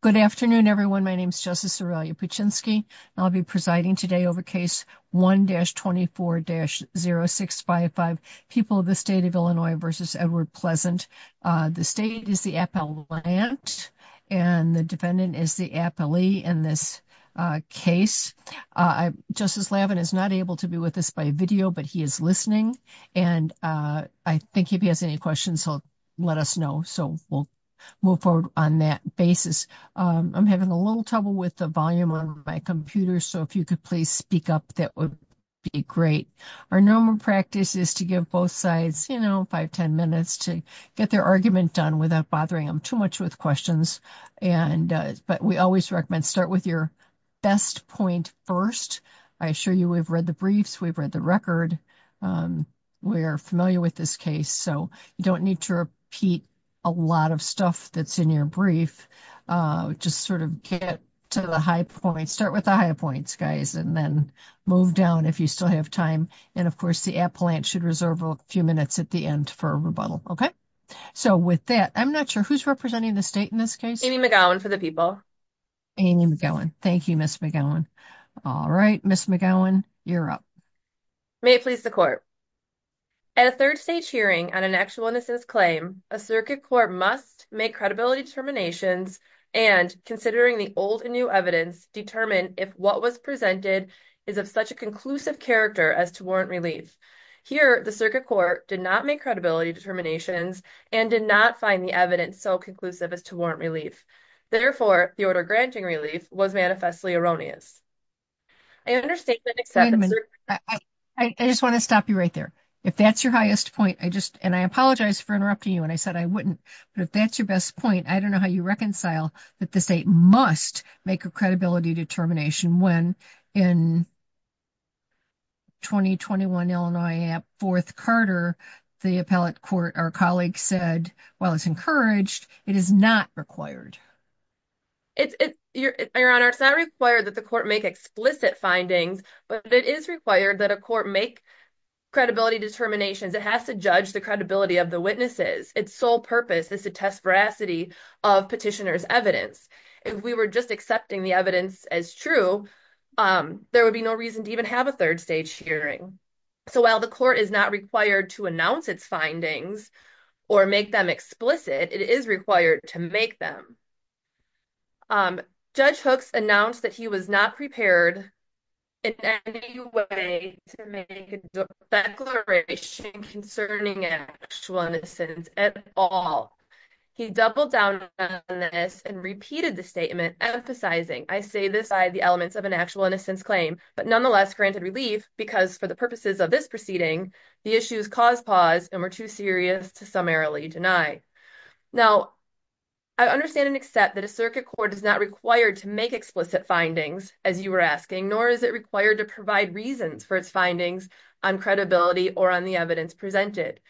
Good afternoon, everyone. My name is Justice Aurelia Puczynski, and I'll be presiding today over case 1-24-0655, People of the State of Illinois v. Edward Pleasant. The state is the Appellant, and the defendant is the Appellee in this case. Justice Lavin is not able to be with us by video, but he is listening, and I think if he has any questions, he'll let us know. So we'll move forward on that basis. I'm having a little trouble with the volume on my computer, so if you could please speak up, that would be great. Our normal practice is to give both sides, you know, 5-10 minutes to get their argument done without bothering them too much with questions, but we always recommend start with your best point first. I assure you we've read the briefs, we've read the record, we're familiar with this case, so you don't need to repeat a lot of stuff that's in your brief. Just sort of get to the high points, start with the high points, guys, and then move down if you still have time. And of course, the Appellant should reserve a few minutes at the end for a rebuttal. Okay? So with that, I'm not sure who's representing the state in this case? Amy McGowan for the People. Amy McGowan. Thank you, Ms. McGowan. All right, Ms. McGowan, you're up. May it please the Court. At a third-stage hearing on an actual innocence claim, a circuit court must make credibility determinations and, considering the old and new evidence, determine if what was presented is of such a conclusive character as to warrant relief. Here, the circuit court did not make credibility determinations and did not find the evidence so conclusive as to warrant relief. Therefore, the order granting relief was manifestly erroneous. I understand that. I just want to stop you right there. If that's your highest point, I just, and I apologize for interrupting you, and I said I wouldn't, but if that's your best point, I don't know how you reconcile that the state must make a credibility determination when in 2021, Illinois, at 4th Carter, the appellate court, our colleague said, while it's encouraged, it is not required. Your Honor, it's not required that the court make explicit findings, but it is required that a court make credibility determinations. It has to judge the credibility of the witnesses. Its sole purpose is to test veracity of petitioner's evidence. If we were just accepting the evidence as true, there would be no reason to even have a third stage hearing. So while the court is not required to announce its findings or make them explicit, it is required to make them. Judge Hooks announced that he was not prepared in any way to make a declaration concerning actual innocence at all. He doubled down on this and repeated the statement, emphasizing, I say this by the elements of an actual innocence claim, but nonetheless granted relief because for the purposes of this proceeding, the issues caused pause and were too serious to summarily deny. Now, I understand and accept that a circuit court is not required to make explicit findings, as you were asking, nor is it required to provide reasons for its findings on credibility or on the evidence presented.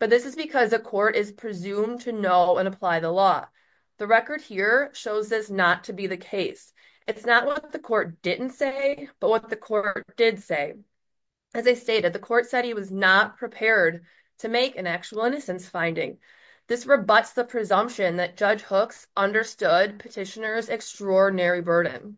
But this is because a court is presumed to know and apply the law. The record here shows this not to be the case. It's not what the court didn't say, but what the court did say. As I stated, the court said he was not prepared to make an actual innocence finding. This rebuts the presumption that Judge Hooks understood petitioner's extraordinary burden.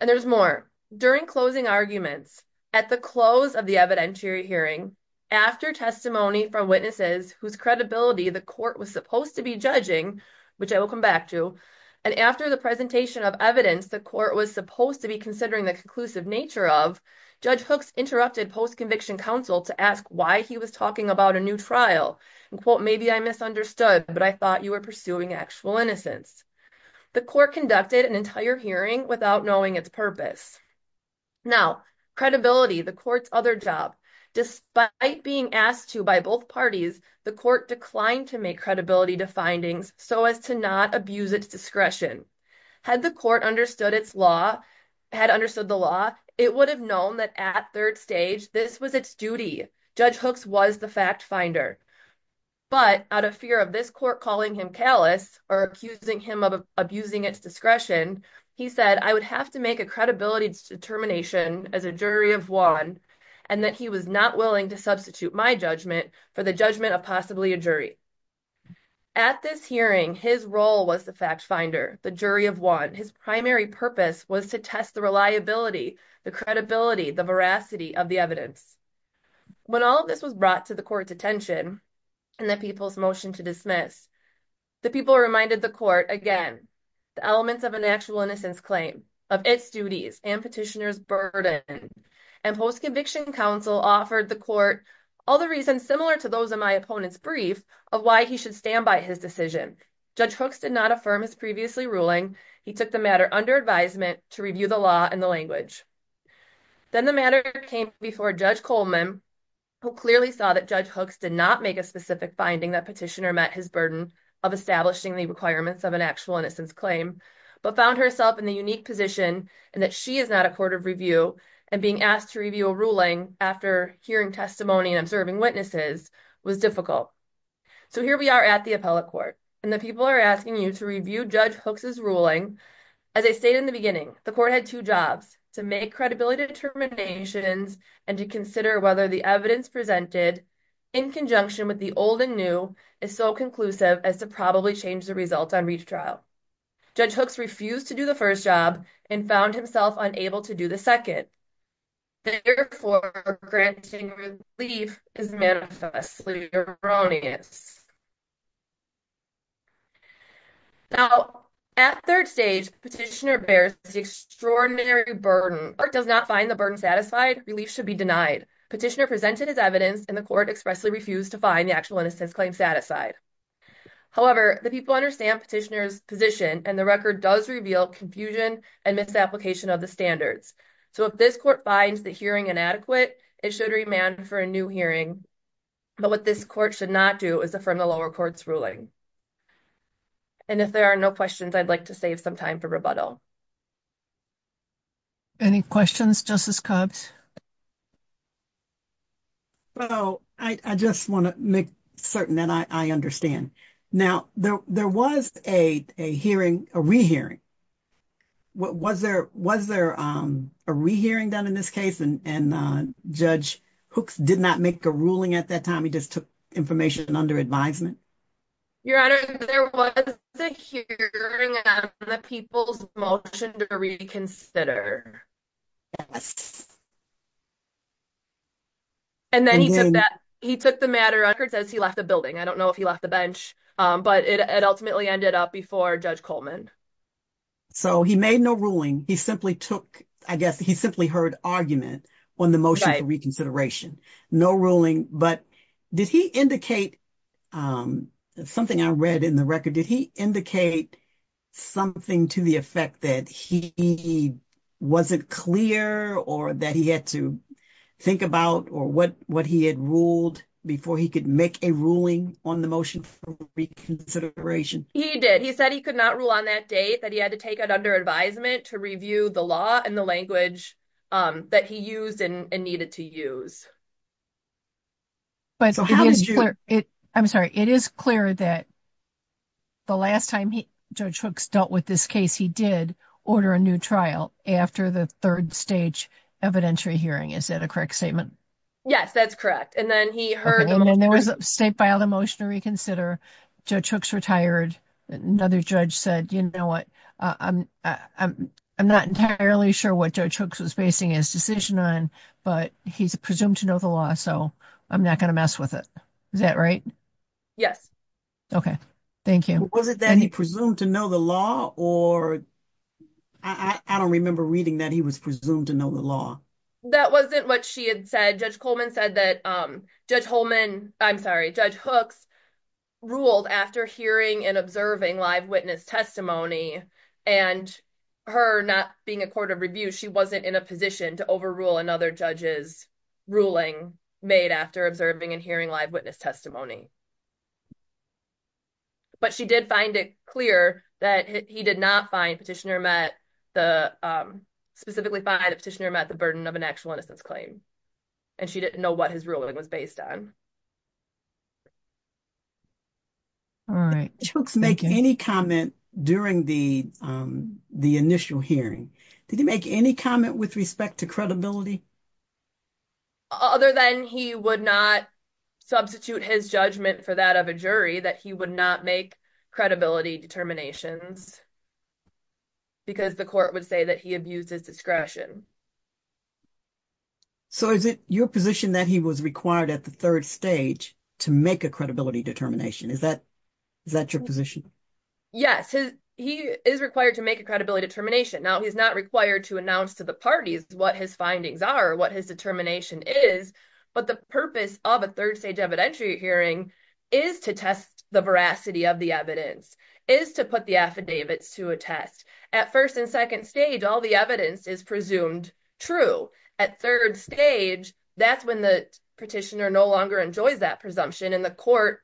And there's more. During closing arguments, at the close of the evidentiary hearing, after testimony from witnesses whose credibility the court was supposed to be judging, which I will come back to, and after the presentation of evidence the court was supposed to be considering the conclusive nature of, Judge Hooks interrupted post-conviction counsel to ask why he was talking about a new trial. And quote, maybe I misunderstood, but I thought you were pursuing actual innocence. The court conducted an entire hearing without knowing its purpose. Now, credibility, the court's other job. Despite being asked to by both parties, the court declined to make credibility to findings so as to not abuse its discretion. Had the court understood the law, it would have known that at third stage, this was its duty. Judge Hooks was the fact finder. But out of fear of this court calling him callous or accusing him of abusing its discretion, he said, I would have to make a credibility determination as a jury of one and that he was not willing to substitute my judgment for the judgment of possibly a jury. At this hearing, his role was the fact finder, the jury of one. His primary purpose was to test the reliability, the credibility, the veracity of the evidence. When all of this was brought to the court's attention and the people's motion to dismiss, the people reminded the court again, the elements of an actual innocence claim of its duties and petitioners burden. And post-conviction counsel offered the court all the reasons similar to those of my opponent's brief of why he should stand by his decision. Judge Hooks did not affirm his previously ruling. He took the matter under advisement to review the law and the language. Then the matter came before Judge Coleman, who clearly saw that Judge Hooks did not make a specific finding that petitioner met his burden of establishing the requirements of an actual innocence claim, but found herself in the unique position and that she is not a court of review and being asked to review a ruling after hearing testimony and observing witnesses was difficult. So here we are at the appellate court and the people are asking you to review Judge Hooks' ruling. As I stated in the beginning, the court had two jobs to make credibility determinations and to consider whether the evidence presented in conjunction with the old and new is so conclusive as to probably change the results on each trial. Judge Hooks refused to do the first job and found himself unable to do the second. Therefore, granting relief is manifestly erroneous. Now, at third stage, petitioner bears the extraordinary burden. If the court does not find the burden satisfied, relief should be denied. Petitioner presented his evidence and the court expressly refused to find the actual innocence claim satisfied. However, the people understand petitioner's position and the record does reveal confusion and misapplication of the standards. So if this court finds the hearing inadequate, it should remand for a new hearing. But what this court should not do is affirm the lower court's ruling. And if there are no questions, I'd like to save some time for rebuttal. Any questions, Justice Cox? Well, I just want to make certain that I understand. Now, there was a hearing, a rehearing. Was there a rehearing done in this case and Judge Hooks did not make a ruling at that time? He just took information under advisement? Your Honor, there was a hearing on the people's motion to reconsider. Yes. And then he took the matter as he left the building. I don't know if he left the bench, but it ultimately ended up before Judge Coleman. So he made no ruling. He simply took, I guess, he simply heard argument on the motion for reconsideration. No ruling. But did he indicate, something I read in the record, did he indicate something to the effect that he wasn't clear or that he had to think about or what he had ruled before he could make a ruling on the motion for reconsideration? He did. He said he could not rule on that date, that he had to take it under advisement to review the law and the language that he used and needed to use. I'm sorry. It is clear that the last time Judge Hooks dealt with this case, he did order a new trial after the third stage evidentiary hearing. Is that a correct statement? Yes, that's correct. And then he heard... And then there was a state filed a motion to reconsider. Judge Hooks retired. Another judge said, you know what, I'm not entirely sure what Judge Hooks was basing his decision on, but he's presumed to know the law. So I'm not going to mess with it. Is that right? Yes. Okay. Thank you. Was it that he presumed to know the law? Or I don't remember reading that he was presumed to know the law. That wasn't what she had said. Judge Coleman said that Judge Holman, I'm sorry, Judge Hooks ruled after hearing and observing live witness testimony and her not being a court of review, she wasn't in a position to overrule another judge's ruling made after observing and hearing live witness testimony. But she did find it clear that he did not find Petitioner Met, specifically find that Petitioner Met the burden of an actual innocence claim. And she didn't know what his ruling was based on. All right. Judge Hooks made any comment during the initial hearing. Did he make any comment with respect to credibility? Other than he would not substitute his judgment for that of a jury, that he would not make credibility determinations because the court would say that he abuses discretion. So is it your position that he was required at the third stage to make a credibility determination? Is that your position? Yes, he is required to make a credibility determination. Now, he's not required to announce to the parties what his findings are, what his determination is. But the purpose of a third stage evidentiary hearing is to test the veracity of the evidence, is to put the affidavits to a test. At first and second stage, all the evidence is presumed true. At third stage, that's when the petitioner no longer enjoys that presumption and the court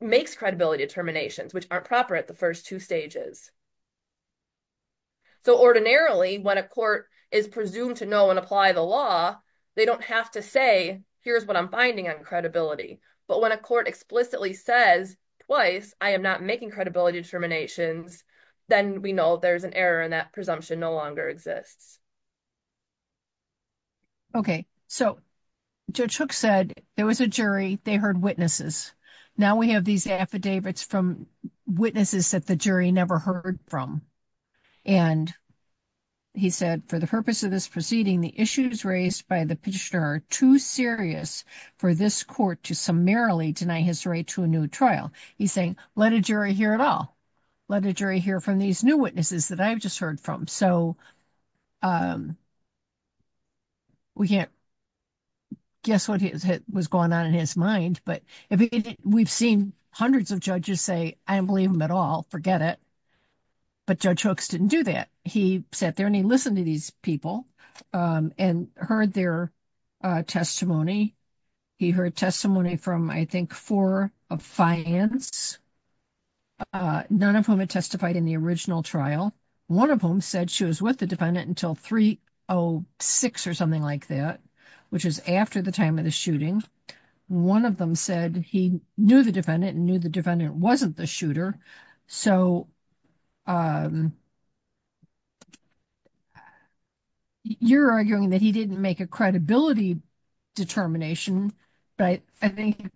makes credibility determinations, which aren't proper at the first two stages. So ordinarily, when a court is presumed to know and apply the law, they don't have to say, here's what I'm finding on credibility. But when a court explicitly says twice, I am not making credibility determinations, then we know there's an error and that presumption no longer exists. Okay, so Judge Hook said there was a jury, they heard witnesses. Now we have these affidavits from witnesses that the jury never heard from. And he said, for the purpose of this proceeding, the issues raised by the petitioner are too serious for this court to summarily deny his right to a new trial. He's saying, let a jury hear it all. Let a jury hear from these new witnesses that I've just heard from. So we can't guess what was going on in his mind. But we've seen hundreds of judges say, I don't believe him at all, forget it. But Judge Hooks didn't do that. He sat there and he listened to these people and heard their testimony. He heard testimony from, I think, four of finance, none of whom had testified in the original trial. One of whom said she was with the defendant until 306 or something like that, which is after the time of the shooting. One of them said he knew the defendant and knew the defendant wasn't the shooter. So you're arguing that he didn't make a credibility determination. But I think it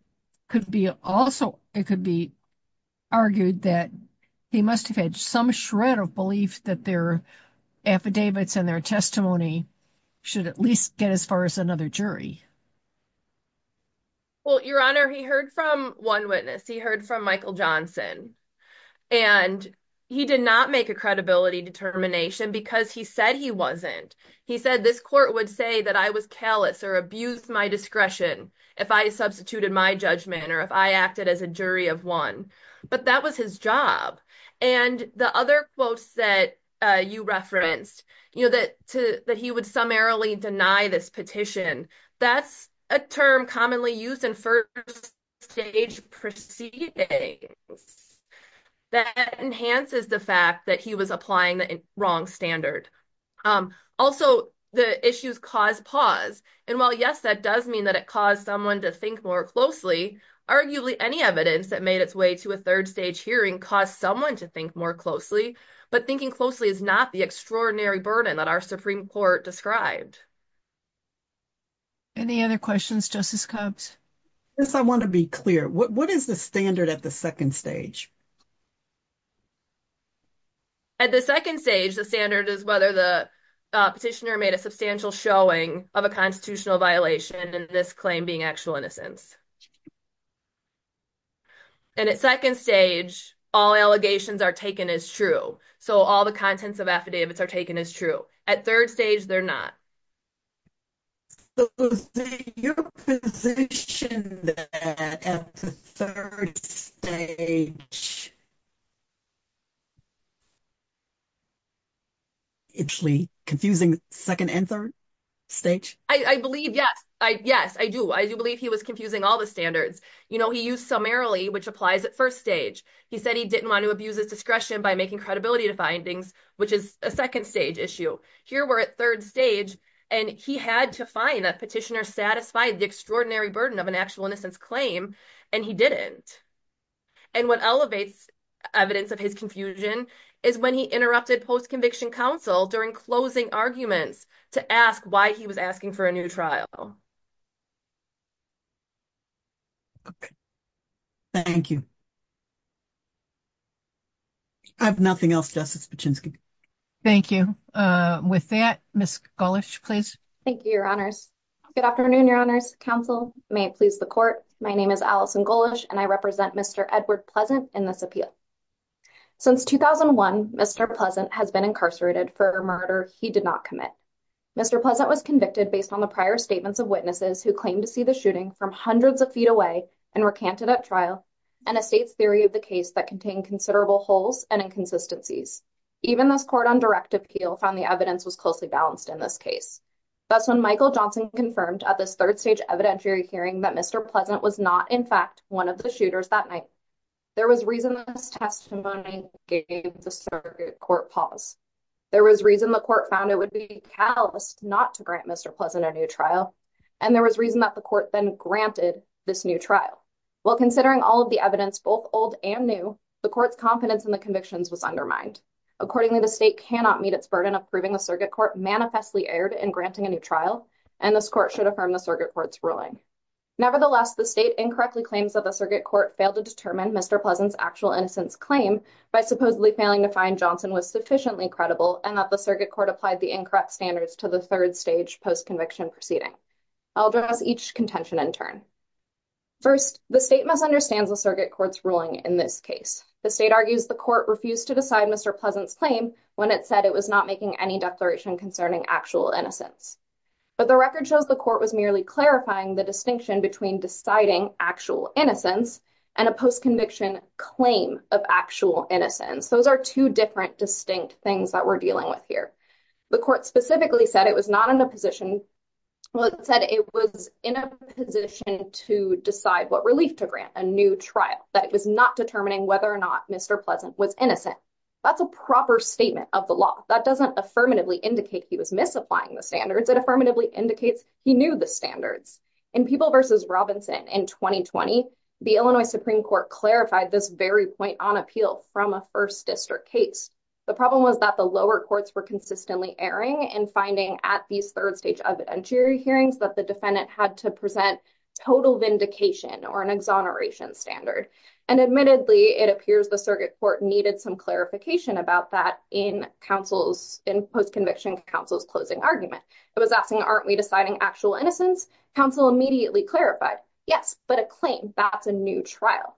could be argued that he must have had some shred of belief that their affidavits and their testimony should at least get as far as another jury. Well, Your Honor, he heard from one witness. He heard from Michael Johnson. And he did not make a credibility determination because he said he wasn't. He said this court would say that I was callous or abused my discretion if I substituted my judgment or if I acted as a jury of one. But that was his job. And the other quotes that you referenced, that he would summarily deny this petition, that's a term commonly used in first stage proceedings that enhances the fact that he was applying the wrong standard. Also, the issues cause pause. And while, yes, that does mean that it caused someone to think more closely, arguably, any evidence that made its way to a third stage hearing caused someone to think more closely. But thinking closely is not the extraordinary burden that our Supreme Court described. Any other questions, Justice Copps? Yes, I want to be clear. What is the standard at the second stage? At the second stage, the standard is whether the petitioner made a substantial showing of a constitutional violation and this claim being actual innocence. And at second stage, all allegations are taken as true. So all the contents of affidavits are taken as true. At third stage, they're not. So, say, you're positioned at the third stage. Actually confusing second and third stage? I believe, yes. Yes, I do. I do believe he was confusing all the standards. You know, he used summarily, which applies at first stage. He said he didn't want to abuse his discretion by making credibility to findings, which is a second stage issue. Here we're at third stage, and he had to find a petitioner satisfied the extraordinary burden of an actual innocence claim, and he didn't. And what elevates evidence of his confusion is when he interrupted post-conviction counsel during closing arguments to ask why he was asking for a new trial. Thank you. I have nothing else, Justice Pachinski. Thank you. With that, Ms. Gullish, please. Thank you, Your Honors. Good afternoon, Your Honors. Counsel, may it please the Court. My name is Allison Gullish, and I represent Mr. Edward Pleasant in this appeal. Since 2001, Mr. Pleasant has been incarcerated for a murder he did not commit. Mr. Pleasant was convicted based on the prior statements of witnesses who claimed to see the shooting from hundreds of feet away and recanted at trial, and a state's theory of the case that contained considerable holes and inconsistencies. Even this court on direct appeal found the evidence was closely balanced in this case. That's when Michael Johnson confirmed at this third stage evidentiary hearing that Mr. Pleasant was not, in fact, one of the shooters that night. There was reason this testimony gave the circuit court pause. There was reason the court found it would be callous not to grant Mr. Pleasant a new trial. And there was reason that the court then granted this new trial. While considering all of the evidence, both old and new, the court's confidence in the convictions was undermined. Accordingly, the state cannot meet its burden of proving the circuit court manifestly erred in granting a new trial, and this court should affirm the circuit court's ruling. Nevertheless, the state incorrectly claims that the circuit court failed to determine Mr. Pleasant's actual innocence claim by supposedly failing to find Johnson was sufficiently credible and that the circuit court applied the incorrect standards to the third stage post-conviction proceeding. I'll address each contention in turn. First, the state misunderstands the circuit court's ruling in this case. The state argues the court refused to decide Mr. Pleasant's claim when it said it was not making any declaration concerning actual innocence. But the record shows the court was merely clarifying the distinction between deciding actual innocence and a post-conviction claim of actual innocence. Those are two different distinct things that we're dealing with here. The court specifically said it was not in a position, well, it said it was in a position to decide what relief to grant a new trial, that it was not determining whether or not Mr. Pleasant was innocent. That's a proper statement of the law. That doesn't affirmatively indicate he was misapplying the standards. It affirmatively indicates he knew the standards. In People v. Robinson in 2020, the Illinois Supreme Court clarified this very point on appeal from a first district case. The problem was that the lower courts were consistently erring in finding at these third stage evidentiary hearings that the defendant had to present total vindication or an exoneration standard. And admittedly, it appears the circuit court needed some clarification about that in post-conviction counsel's closing argument. It was asking, aren't we deciding actual innocence? Counsel immediately clarified, yes, but a claim, that's a new trial.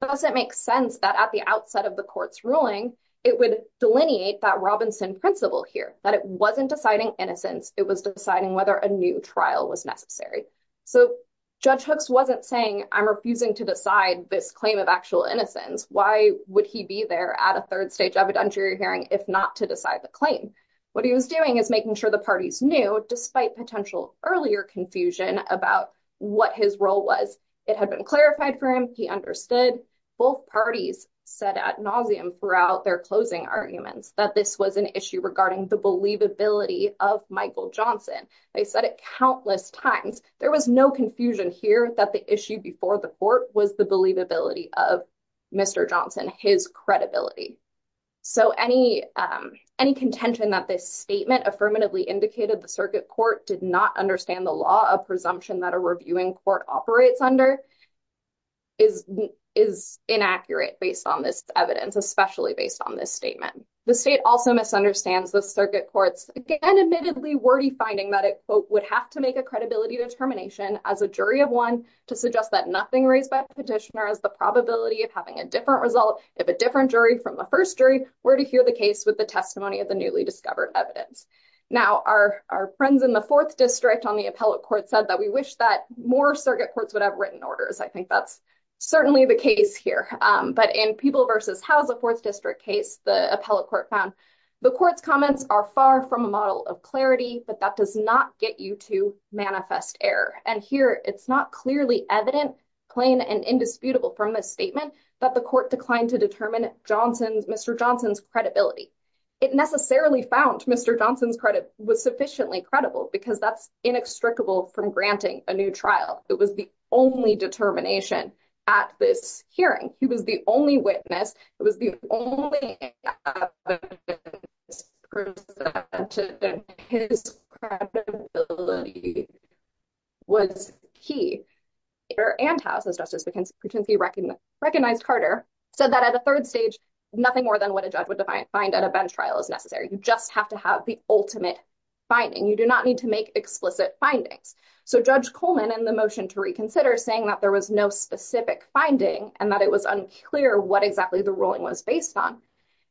Does it make sense that at the outset of the court's ruling, it would delineate that Robinson principle here, that it wasn't deciding innocence, it was deciding whether a new trial was necessary. So Judge Hooks wasn't saying, I'm refusing to decide this claim of actual innocence. Why would he be there at a third stage evidentiary hearing if not to decide the claim? What he was doing is making sure the parties knew, despite potential earlier confusion about what his role was, it had been clarified for him, he understood. Both parties said ad nauseum throughout their closing arguments that this was an issue regarding the believability of Michael Johnson. They said it countless times. There was no confusion here that the issue before the court was the believability of Mr. Johnson, his credibility. So any contention that this statement affirmatively indicated the circuit court did not understand the law, a presumption that a reviewing court operates under, is inaccurate based on this evidence, especially based on this statement. The state also misunderstands the circuit court's, again, admittedly wordy finding that it, quote, would have to make a credibility determination as a jury of one to suggest that nothing raised by the petitioner is the probability of having a different result if a different jury from the first jury were to hear the case with the testimony of the newly discovered evidence. Now, our friends in the fourth district on the appellate court said that we wish that more circuit courts would have written orders. I think that's certainly the case here. But in People v. Howe's fourth district case, the appellate court found the court's comments are far from a model of clarity, but that does not get you to manifest error. And here, it's not clearly evident, plain and indisputable from this statement that the court declined to determine Mr. Johnson's credibility. It necessarily found Mr. Johnson's credit was sufficiently credible because that's inextricable from granting a new trial. It was the only determination at this hearing. He was the only witness. It was the only evidence presented that his credibility was key. And Howe's, as Justice Patencia recognized Carter, said that at a third stage, nothing more than what a judge would find at a bench trial is necessary. You just have to have the ultimate finding. You do not need to make explicit findings. So Judge Coleman, in the motion to reconsider, saying that there was no specific finding and that it was unclear what exactly the ruling was based on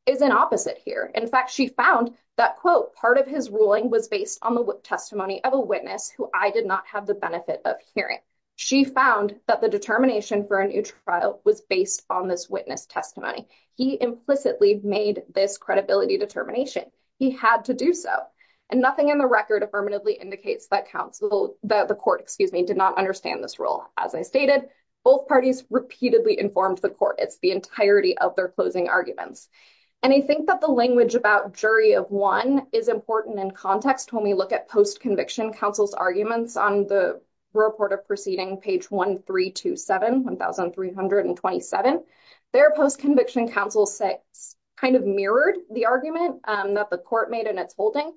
is an opposite here. In fact, she found that, quote, part of his ruling was based on the testimony of a witness who I did not have the benefit of hearing. She found that the determination for a new trial was based on this witness testimony. He implicitly made this credibility determination. He had to do so. And nothing in the record affirmatively indicates that counsel, that the court, excuse me, did not understand this rule. As I stated, both parties repeatedly informed the court. It's the entirety of their closing arguments. And I think that the language about jury of one is important in context when we look at post-conviction counsel's arguments on the report of proceeding, page 1327, 1327. Their post-conviction counsel kind of mirrored the argument that the court made in its holding.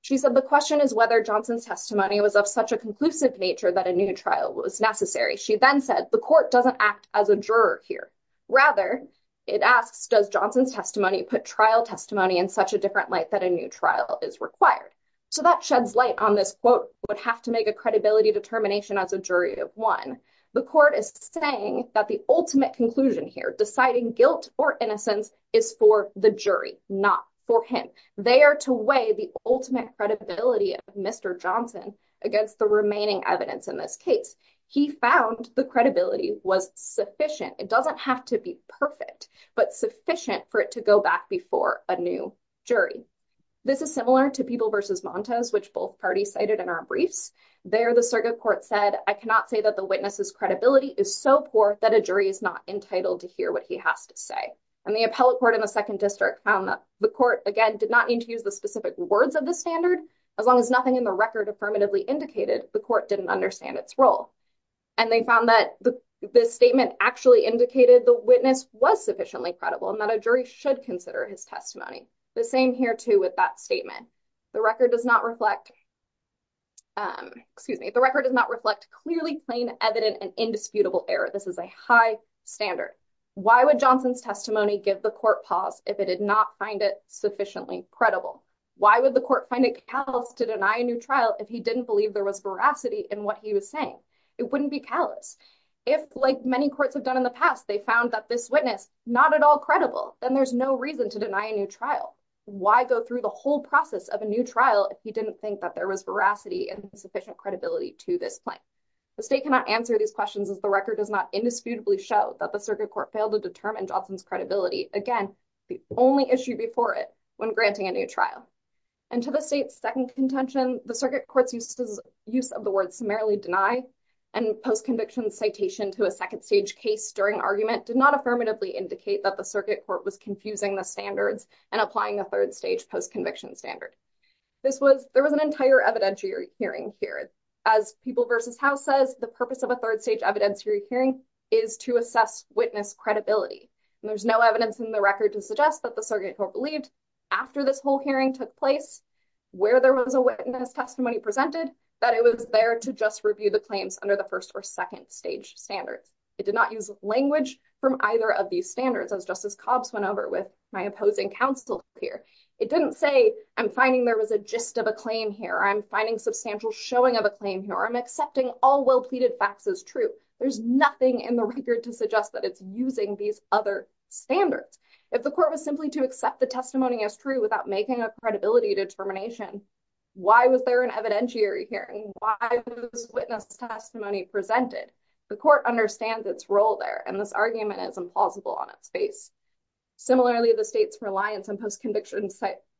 She said, the question is whether Johnson's testimony was of such a conclusive nature that a new trial was necessary. She then said, the court doesn't act as a juror here. Rather, it asks, does Johnson's testimony put trial testimony in such a different light that a new trial is required? So that sheds light on this, quote, would have to make a credibility determination as a jury of one. The court is saying that the ultimate conclusion here, deciding guilt or innocence, is for the jury, not for him. They are to weigh the ultimate credibility of Mr. Johnson against the remaining evidence in this case. He found the credibility was sufficient. It doesn't have to be perfect, but sufficient for it to go back before a new jury. This is similar to People v. Montes, which both parties cited in our briefs. There, the circuit court said, I cannot say that the witness's credibility is so poor that a jury is not entitled to hear what he has to say. And the appellate court in the Second District found that the court, again, did not need to use the specific words of the standard. As long as nothing in the record affirmatively indicated, the court didn't understand its role. And they found that the statement actually indicated the witness was sufficiently credible and that a jury should consider his testimony. The same here, too, with that statement. The record does not reflect clearly plain, evident, and indisputable error. This is a high standard. Why would Johnson's testimony give the court pause if it did not find it sufficiently credible? Why would the court find it callous to deny a new trial if he didn't believe there was veracity in what he was saying? It wouldn't be callous. If, like many courts have done in the past, they found that this witness, not at all credible, then there's no reason to deny a new trial. Why go through the whole process of a new trial if he didn't think that there was veracity and sufficient credibility to this claim? The state cannot answer these questions as the record does not indisputably show that the circuit court failed to determine Johnson's credibility. Again, the only issue before it when granting a new trial. And to the state's second contention, the circuit court's use of the word summarily deny and post-conviction citation to a second stage case during argument did not affirmatively indicate that the circuit court was confusing the standards and applying a third stage post-conviction standard. There was an entire evidentiary hearing here. As People v. House says, the purpose of a third stage evidentiary hearing is to assess witness credibility. And there's no evidence in the record to suggest that the circuit court believed after this whole hearing took place, where there was a witness testimony presented, that it was there to just review the claims under the first or second stage standards. It did not use language from either of these standards, as Justice Cobbs went over with my opposing counsel here. It didn't say, I'm finding there was a gist of a claim here. I'm finding substantial showing of a claim here. I'm accepting all well-pleaded facts as true. There's nothing in the record to suggest that it's using these other standards. If the court was simply to accept the testimony as true without making a credibility determination, why was there an evidentiary hearing? Why was witness testimony presented? The court understands its role there, and this argument is implausible on its face. Similarly, the state's reliance on post-conviction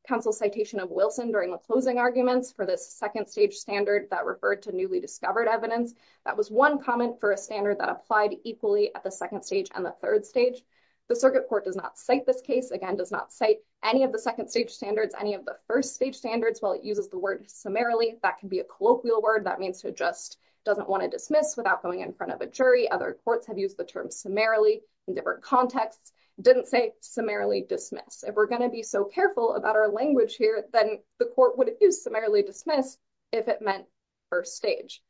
counsel's citation of Wilson during the closing arguments for this second stage standard that referred to newly discovered evidence, that was one comment for a standard that applied equally at the second stage and the third stage. The circuit court does not cite this case, again, does not cite any of the second stage standards, any of the first stage standards, while it uses the word summarily. That can be a colloquial word that means who just doesn't want to dismiss without going in front of a jury. Other courts have used the term summarily in different contexts. It didn't say summarily dismiss. If we're going to be so careful about our language here, then the court would have used summarily dismiss if it meant first stage.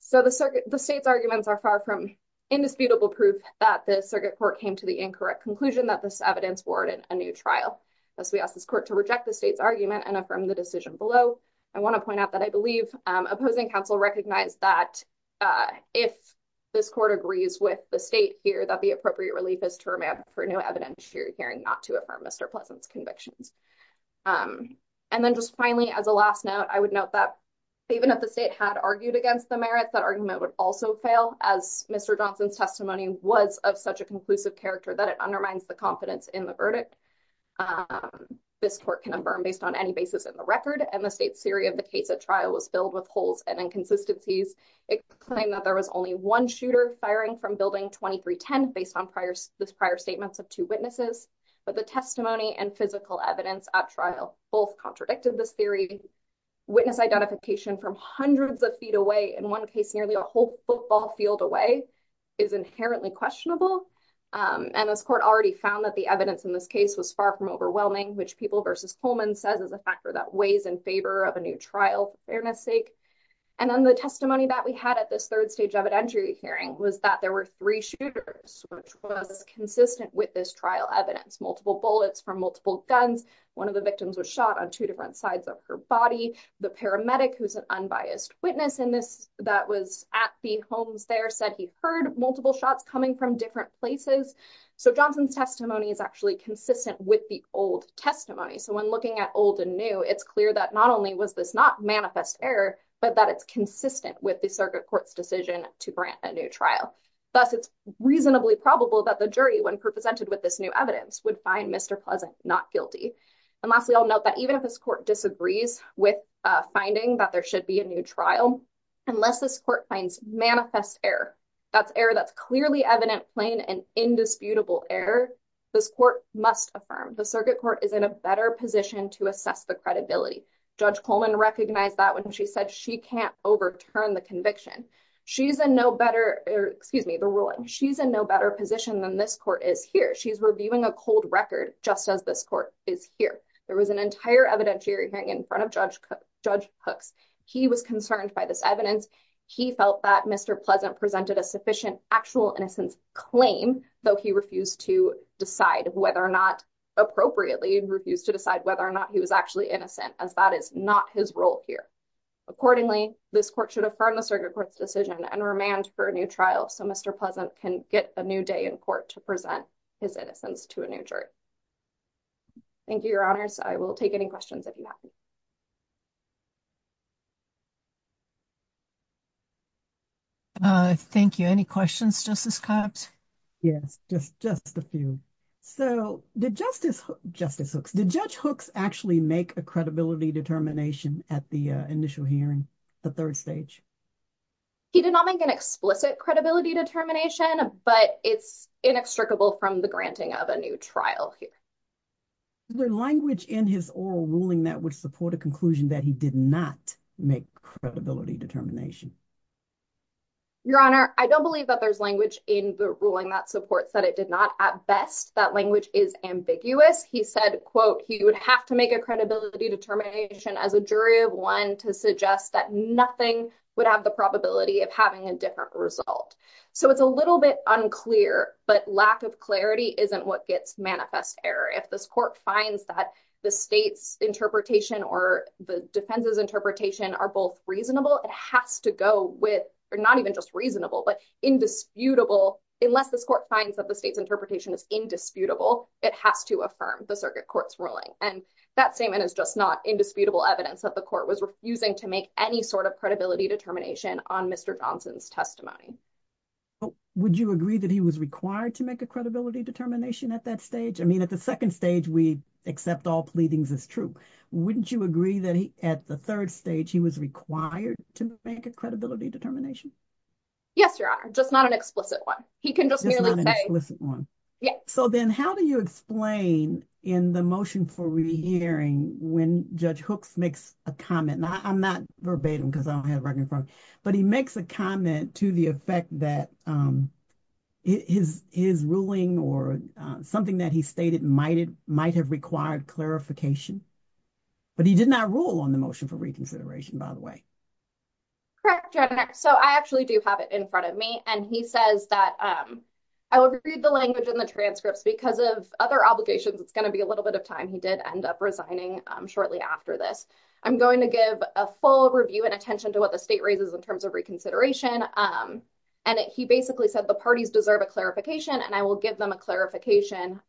So the state's arguments are far from indisputable proof that the circuit court came to the incorrect conclusion that this evidence warranted a new trial. Thus, we ask this court to reject the state's argument and affirm the decision below. I want to point out that I believe opposing counsel recognized that if this court agrees with the state here, that the appropriate relief is to remand for new evidence for hearing not to affirm Mr. Pleasant's convictions. And then just finally, as a last note, I would note that even if the state had argued against the merits, that argument would also fail as Mr. Johnson's testimony was of such a conclusive character that it undermines the confidence in the verdict. This court can affirm based on any basis in the record. And the state's theory of the case at trial was filled with holes and inconsistencies. It claimed that there was only one shooter firing from building 2310 based on prior statements of two witnesses. But the testimony and physical evidence at trial both contradicted this theory. Witness identification from hundreds of feet away, in one case nearly a whole football field away, is inherently questionable. And this court already found that the evidence in this case was far from overwhelming, which People v. Coleman says is a factor that weighs in favor of a new trial, for fairness sake. And then the testimony that we had at this third stage evidentiary hearing was that there were three shooters, which was consistent with this trial evidence. Multiple bullets from multiple guns. One of the victims was shot on two different sides of her body. The paramedic, who's an unbiased witness in this, that was at the homes there, said he heard multiple shots coming from different places. So Johnson's testimony is actually consistent with the old testimony. So when looking at old and new, it's clear that not only was this not manifest error, but that it's consistent with the circuit court's decision to grant a new trial. Thus, it's reasonably probable that the jury, when presented with this new evidence, would find Mr. Pleasant not guilty. And lastly, I'll note that even if this court disagrees with finding that there should be a new trial, unless this court finds manifest error, that's error that's clearly evident, plain and indisputable error, this court must affirm. The circuit court is in a better position to assess the credibility. Judge Coleman recognized that when she said she can't overturn the conviction. She's in no better, excuse me, the ruling, she's in no better position than this court is here. She's reviewing a cold record, just as this court is here. There was an entire evidentiary hearing in front of Judge Hooks. He was concerned by this evidence. He felt that Mr. Pleasant presented a sufficient actual innocence claim, though he refused to decide whether or not, appropriately refused to decide whether or not he was actually innocent, as that is not his role here. Accordingly, this court should affirm the circuit court's decision and remand for a new trial so Mr. Pleasant can get a new day in court to present his innocence to a new jury. Thank you, your honors. I will take any questions if you have any. Thank you. Any questions, Justice Cox? Yes, just a few. So did Justice Hooks, did Judge Hooks actually make a credibility determination at the initial hearing, the third stage? He did not make an explicit credibility determination, but it's inextricable from the granting of a new trial here. Is there language in his oral ruling that would support a conclusion that he did not? Make credibility determination. Your honor, I don't believe that there's language in the ruling that supports that it did not. At best, that language is ambiguous. He said, quote, he would have to make a credibility determination as a jury of one to suggest that nothing would have the probability of having a different result. So it's a little bit unclear, but lack of clarity isn't what gets manifest error. If this court finds that the state's interpretation or the defense's interpretation are both reasonable, it has to go with, or not even just reasonable, but indisputable. Unless this court finds that the state's interpretation is indisputable, it has to affirm the circuit court's ruling. And that statement is just not indisputable evidence that the court was refusing to make any sort of credibility determination on Mr. Johnson's testimony. Would you agree that he was required to make a credibility determination at that stage? At the second stage, we accept all pleadings as true. Wouldn't you agree that he, at the third stage, he was required to make a credibility determination? Yes, your honor, just not an explicit one. He can just merely say. So then how do you explain in the motion for re-hearing when Judge Hooks makes a comment? I'm not verbatim because I don't have recognition, but he makes a comment to the effect that his ruling or something that he stated might have required clarification. But he did not rule on the motion for reconsideration, by the way. Correct, your honor. So I actually do have it in front of me. And he says that I will read the language in the transcripts because of other obligations. It's going to be a little bit of time. He did end up resigning shortly after this. I'm going to give a full review and attention to what the state raises in terms of reconsideration. And he basically said the parties deserve a clarification and I will give them a clarification.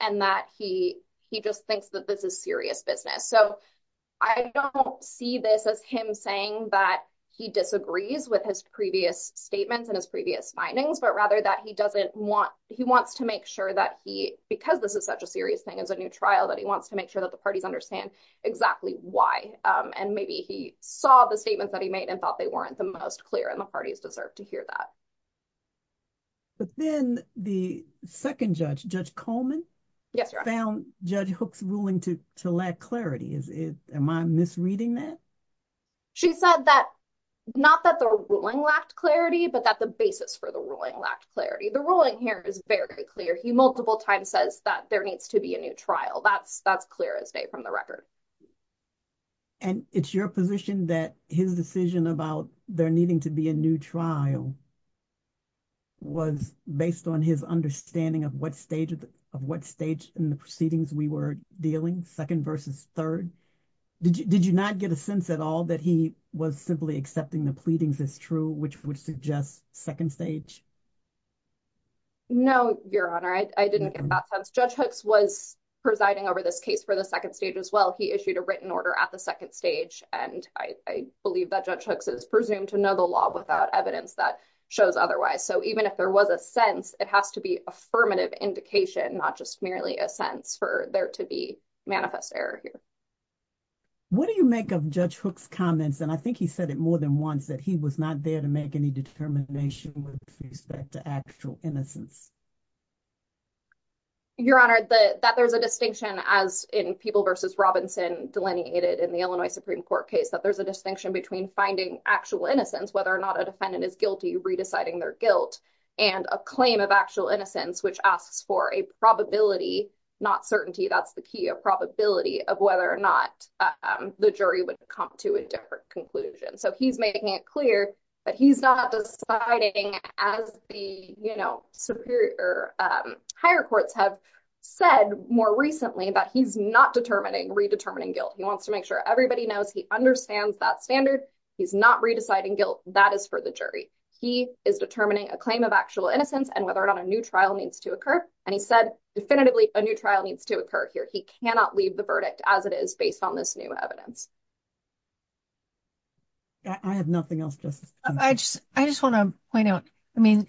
And that he he just thinks that this is serious business. So I don't see this as him saying that he disagrees with his previous statements and his previous findings, but rather that he doesn't want he wants to make sure that he because this is such a serious thing as a new trial, that he wants to make sure that the parties understand exactly why. And maybe he saw the statements that he made and thought they weren't the most clear and the parties deserve to hear that. But then the second judge, Judge Coleman, found Judge Hook's ruling to lack clarity. Am I misreading that? She said that not that the ruling lacked clarity, but that the basis for the ruling lacked clarity. The ruling here is very clear. He multiple times says that there needs to be a new trial. That's that's clear as day from the record. And it's your position that his decision about there needing to be a new trial. Was based on his understanding of what stage of what stage in the proceedings we were dealing second versus third. Did you not get a sense at all that he was simply accepting the pleadings as true, which would suggest second stage? No, Your Honor, I didn't get that sense. Judge Hooks was presiding over this case for the second stage as well. He issued a written order at the second stage, and I believe that Judge Hooks is presumed to know the law without evidence that shows otherwise. So even if there was a sense, it has to be affirmative indication, not just merely a sense for there to be manifest error here. What do you make of Judge Hook's comments? And I think he said it more than once that he was not there to make any determination with respect to actual innocence. Your Honor, that there's a distinction, as in people versus Robinson delineated in the Illinois Supreme Court case, that there's a distinction between finding actual innocence, whether or not a defendant is guilty, re-deciding their guilt and a claim of actual innocence, which asks for a probability, not certainty. That's the key, a probability of whether or not the jury would come to a different conclusion. So he's making it clear that he's not deciding, as the superior higher courts have said more recently, that he's not determining, re-determining guilt. He wants to make sure everybody knows he understands that standard. He's not re-deciding guilt. That is for the jury. He is determining a claim of actual innocence and whether or not a new trial needs to occur. And he said definitively a new trial needs to occur here. He cannot leave the verdict as it is based on this new evidence. I have nothing else. I just want to point out, I mean,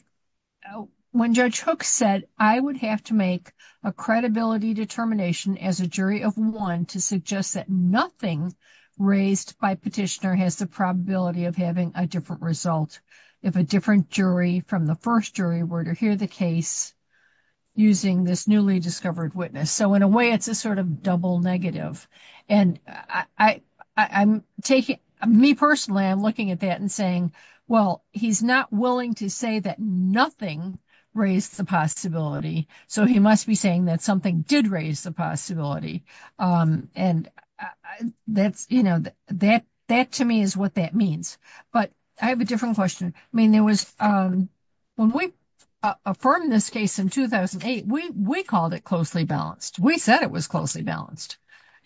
when Judge Hook said, I would have to make a credibility determination as a jury of one to suggest that nothing raised by petitioner has the probability of having a different result. If a different jury from the first jury were to hear the case using this newly discovered witness. So in a way, it's a sort of double negative. And I'm taking, me personally, I'm looking at that and saying, well, he's not willing to say that nothing raised the possibility. So he must be saying that something did raise the possibility. And that's, you know, that to me is what that means. But I have a different question. I mean, there was, when we affirmed this case in 2008, we called it closely balanced. We said it was closely balanced.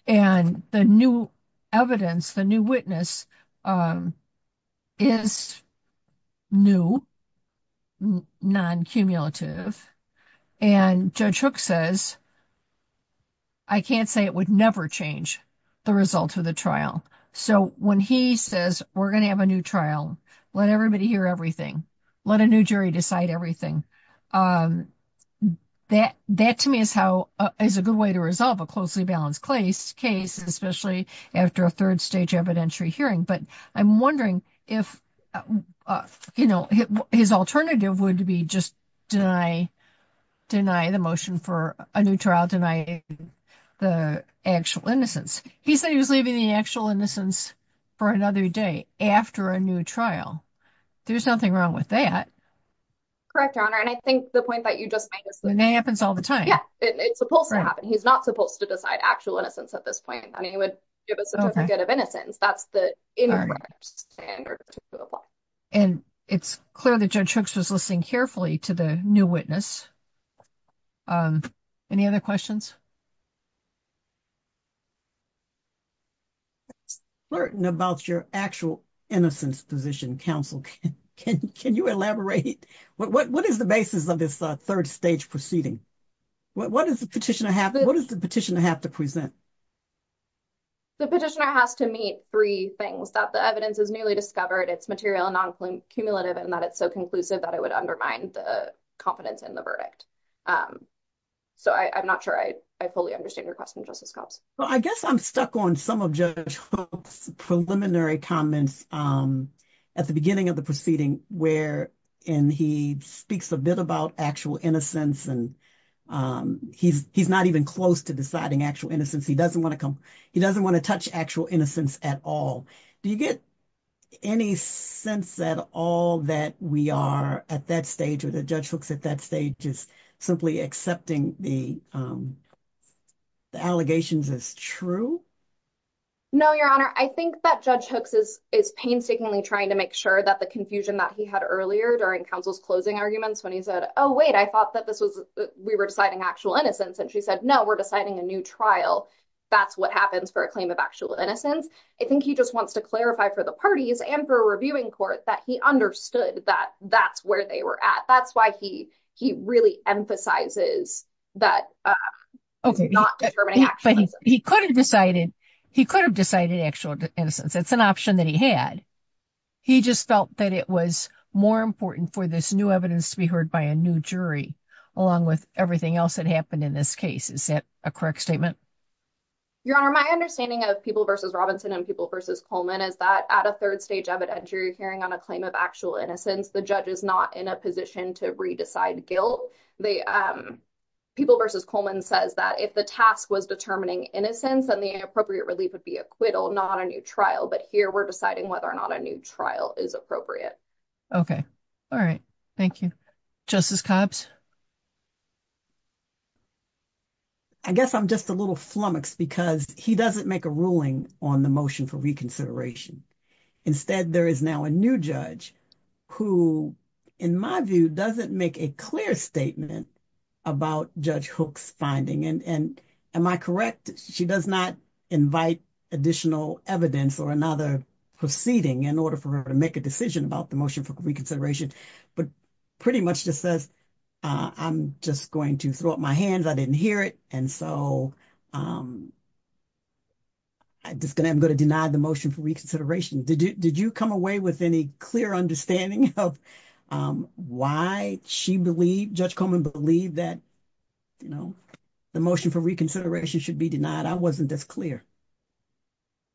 And the new evidence, the new witness is new, non-cumulative. And Judge Hook says, I can't say it would never change the result of the trial. So when he says, we're going to have a new trial, let everybody hear everything, let a new jury decide everything. That to me is how, is a good way to resolve a closely balanced case, especially after a third stage evidentiary hearing. But I'm wondering if, you know, his alternative would be just deny, deny the motion for a new trial, deny the actual innocence. He said he was leaving the actual innocence for another day after a new trial. There's nothing wrong with that. Correct, Your Honor. And I think the point that you just made is that. And that happens all the time. Yeah, it's supposed to happen. He's not supposed to decide actual innocence at this point. I mean, he would give us a certificate of innocence. That's the incorrect standard to apply. And it's clear that Judge Hooks was listening carefully to the new witness. Any other questions? I'm not certain about your actual innocence position, counsel. Can you elaborate? What is the basis of this third stage proceeding? What does the petitioner have to present? The petitioner has to meet three things, that the evidence is newly discovered, it's material and non-cumulative, and that it's so conclusive that it would undermine the confidence in the verdict. So I'm not sure I fully understand your question, Justice Copps. Well, I guess I'm stuck on some of Judge Hooks' preliminary comments at the beginning of the proceeding, wherein he speaks a bit about actual innocence and he's not even close to deciding actual innocence. He doesn't want to touch actual innocence at all. Do you get any sense at all that we are at that stage or that Judge Hooks at that stage is simply accepting the allegations as true? No, Your Honor. I think that Judge Hooks is painstakingly trying to make sure that the confusion that he had earlier during counsel's closing arguments when he said, oh, wait, I thought that we were deciding actual innocence. And she said, no, we're deciding a new trial. That's what happens for a claim of actual innocence. I think he just wants to clarify for the parties and for a reviewing court that he understood that that's where they were at. And that's why he really emphasizes that he's not determining actual innocence. He could have decided actual innocence. It's an option that he had. He just felt that it was more important for this new evidence to be heard by a new jury along with everything else that happened in this case. Is that a correct statement? Your Honor, my understanding of People v. Robinson and People v. Coleman is that at a third stage evidentiary hearing on a claim of actual innocence, the judge is not in a position to re-decide guilt. People v. Coleman says that if the task was determining innocence, then the appropriate relief would be acquittal, not a new trial. But here we're deciding whether or not a new trial is appropriate. Okay. All right. Thank you. Justice Cobbs? I guess I'm just a little flummoxed because he doesn't make a ruling on the motion for reconsideration. Instead, there is now a new judge who, in my view, doesn't make a clear statement about Judge Hook's finding. And am I correct? She does not invite additional evidence or another proceeding in order for her to make a decision about the motion for reconsideration, but pretty much just says, I'm just going to throw up my hands. I didn't hear it. So I'm just going to deny the motion for reconsideration. Did you come away with any clear understanding of why Judge Coleman believed that the motion for reconsideration should be denied? I wasn't as clear.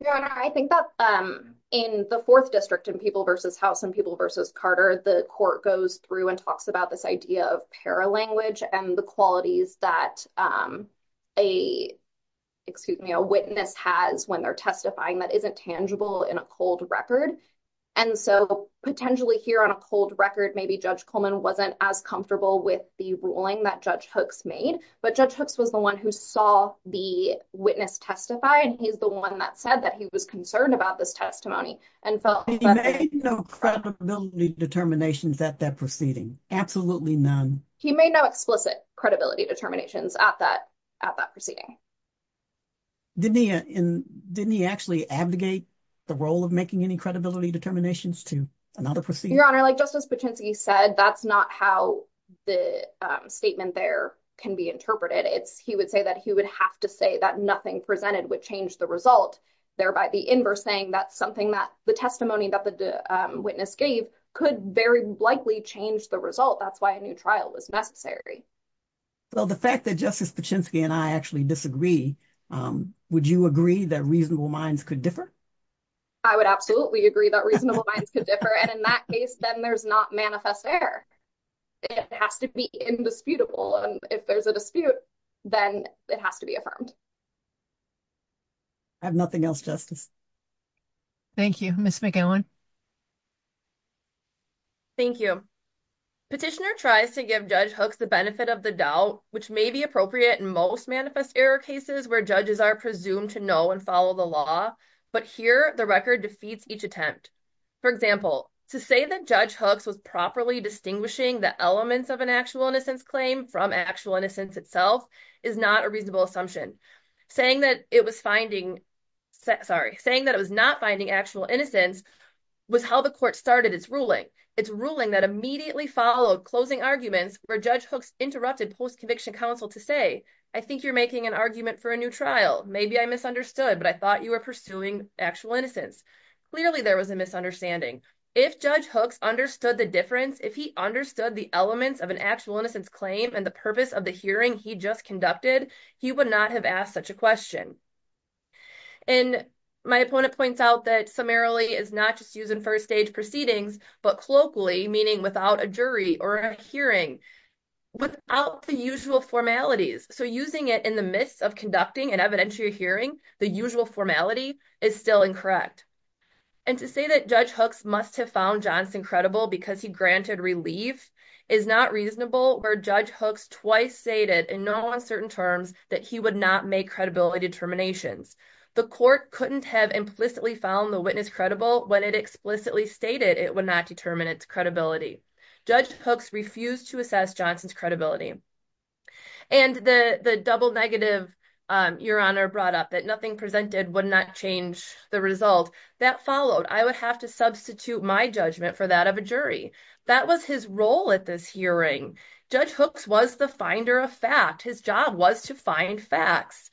Your Honor, I think that in the Fourth District, in People v. House and People v. Carter, the court goes through and talks about this idea of paralanguage and the qualities that a witness has when they're testifying that isn't tangible in a cold record. And so potentially here on a cold record, maybe Judge Coleman wasn't as comfortable with the ruling that Judge Hooks made. But Judge Hooks was the one who saw the witness testify, and he's the one that said that he was concerned about this testimony. He made no credibility determinations at that proceeding. Absolutely none. He made no explicit credibility determinations at that proceeding. Didn't he actually abdicate the role of making any credibility determinations to another proceeding? Your Honor, like Justice Paczynski said, that's not how the statement there can be interpreted. He would say that he would have to say that nothing presented would change the result, thereby the inverse saying that the testimony that the witness gave could very likely change the result. That's why a new trial was necessary. Well, the fact that Justice Paczynski and I actually disagree, would you agree that reasonable minds could differ? I would absolutely agree that reasonable minds could differ. And in that case, then there's not manifest error. It has to be indisputable. And if there's a dispute, then it has to be affirmed. I have nothing else, Justice. Thank you. Ms. McGowan? Thank you. Petitioner tries to give Judge Hooks the benefit of the doubt, which may be appropriate in most manifest error cases where judges are presumed to know and follow the law. But here, the record defeats each attempt. For example, to say that Judge Hooks was properly distinguishing the elements of an actual innocence claim from actual innocence itself is not a reasonable assumption. Saying that it was finding, sorry, saying that it was not finding actual innocence was how the court started its ruling. Its ruling that immediately followed closing arguments where Judge Hooks interrupted post-conviction counsel to say, I think you're making an argument for a new trial. Maybe I misunderstood, but I thought you were pursuing actual innocence. Clearly, there was a misunderstanding. If Judge Hooks understood the difference, if he understood the elements of an actual innocence claim and the purpose of the hearing he just conducted, he would not have asked such a question. And my opponent points out that summarily is not just used in first stage proceedings, but colloquially, meaning without a jury or a hearing, without the usual formalities. So using it in the midst of conducting an evidentiary hearing, the usual formality, is still incorrect. And to say that Judge Hooks must have found Johnson credible because he granted relief is not reasonable where Judge Hooks twice stated in no uncertain terms that he would not make credibility determinations. The court couldn't have implicitly found the witness credible when it explicitly stated it would not determine its credibility. Judge Hooks refused to assess Johnson's credibility. And the double negative Your Honor brought up, that nothing presented would not change the result, that followed. I would have to substitute my judgment for that of a jury. That was his role at this hearing. Judge Hooks was the finder of fact. His job was to find facts.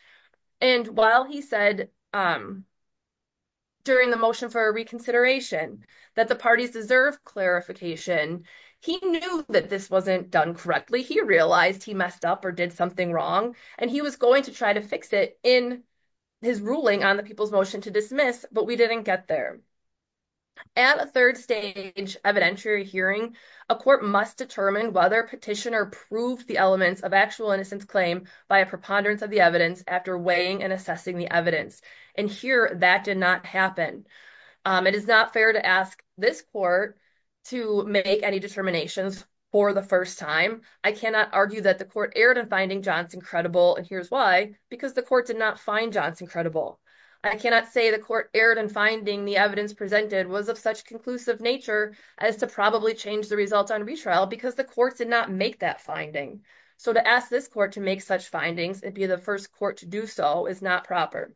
And while he said, during the motion for a reconsideration, that the parties deserve clarification, he knew that this wasn't done correctly. He realized he messed up or did something wrong. And he was going to try to fix it in his ruling on the people's motion to dismiss, but we didn't get there. At a third stage evidentiary hearing, a court must determine whether petitioner proved the elements of actual innocence claim by a preponderance of the evidence after weighing and assessing the evidence. And here, that did not happen. It is not fair to ask this court to make any determinations for the first time. I cannot argue that the court erred in finding Johnson credible, and here's why. Because the court did not find Johnson credible. I cannot say the court erred in finding the evidence presented was of such conclusive nature as to probably change the results on retrial because the court did not make that finding. So to ask this court to make such findings and be the first court to do so is not proper.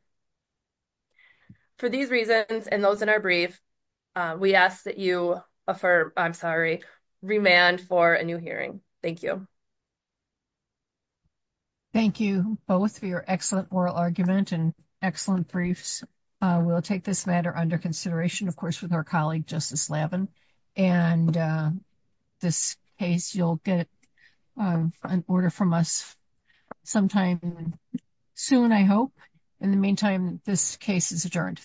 For these reasons and those in our brief, we ask that you affirm, I'm sorry, remand for a new hearing. Thank you. Thank you both for your excellent oral argument and excellent briefs. We'll take this matter under consideration, of course, with our colleague, Justice Lavin. And this case, you'll get an order from us sometime soon, I hope. In the meantime, this case is adjourned.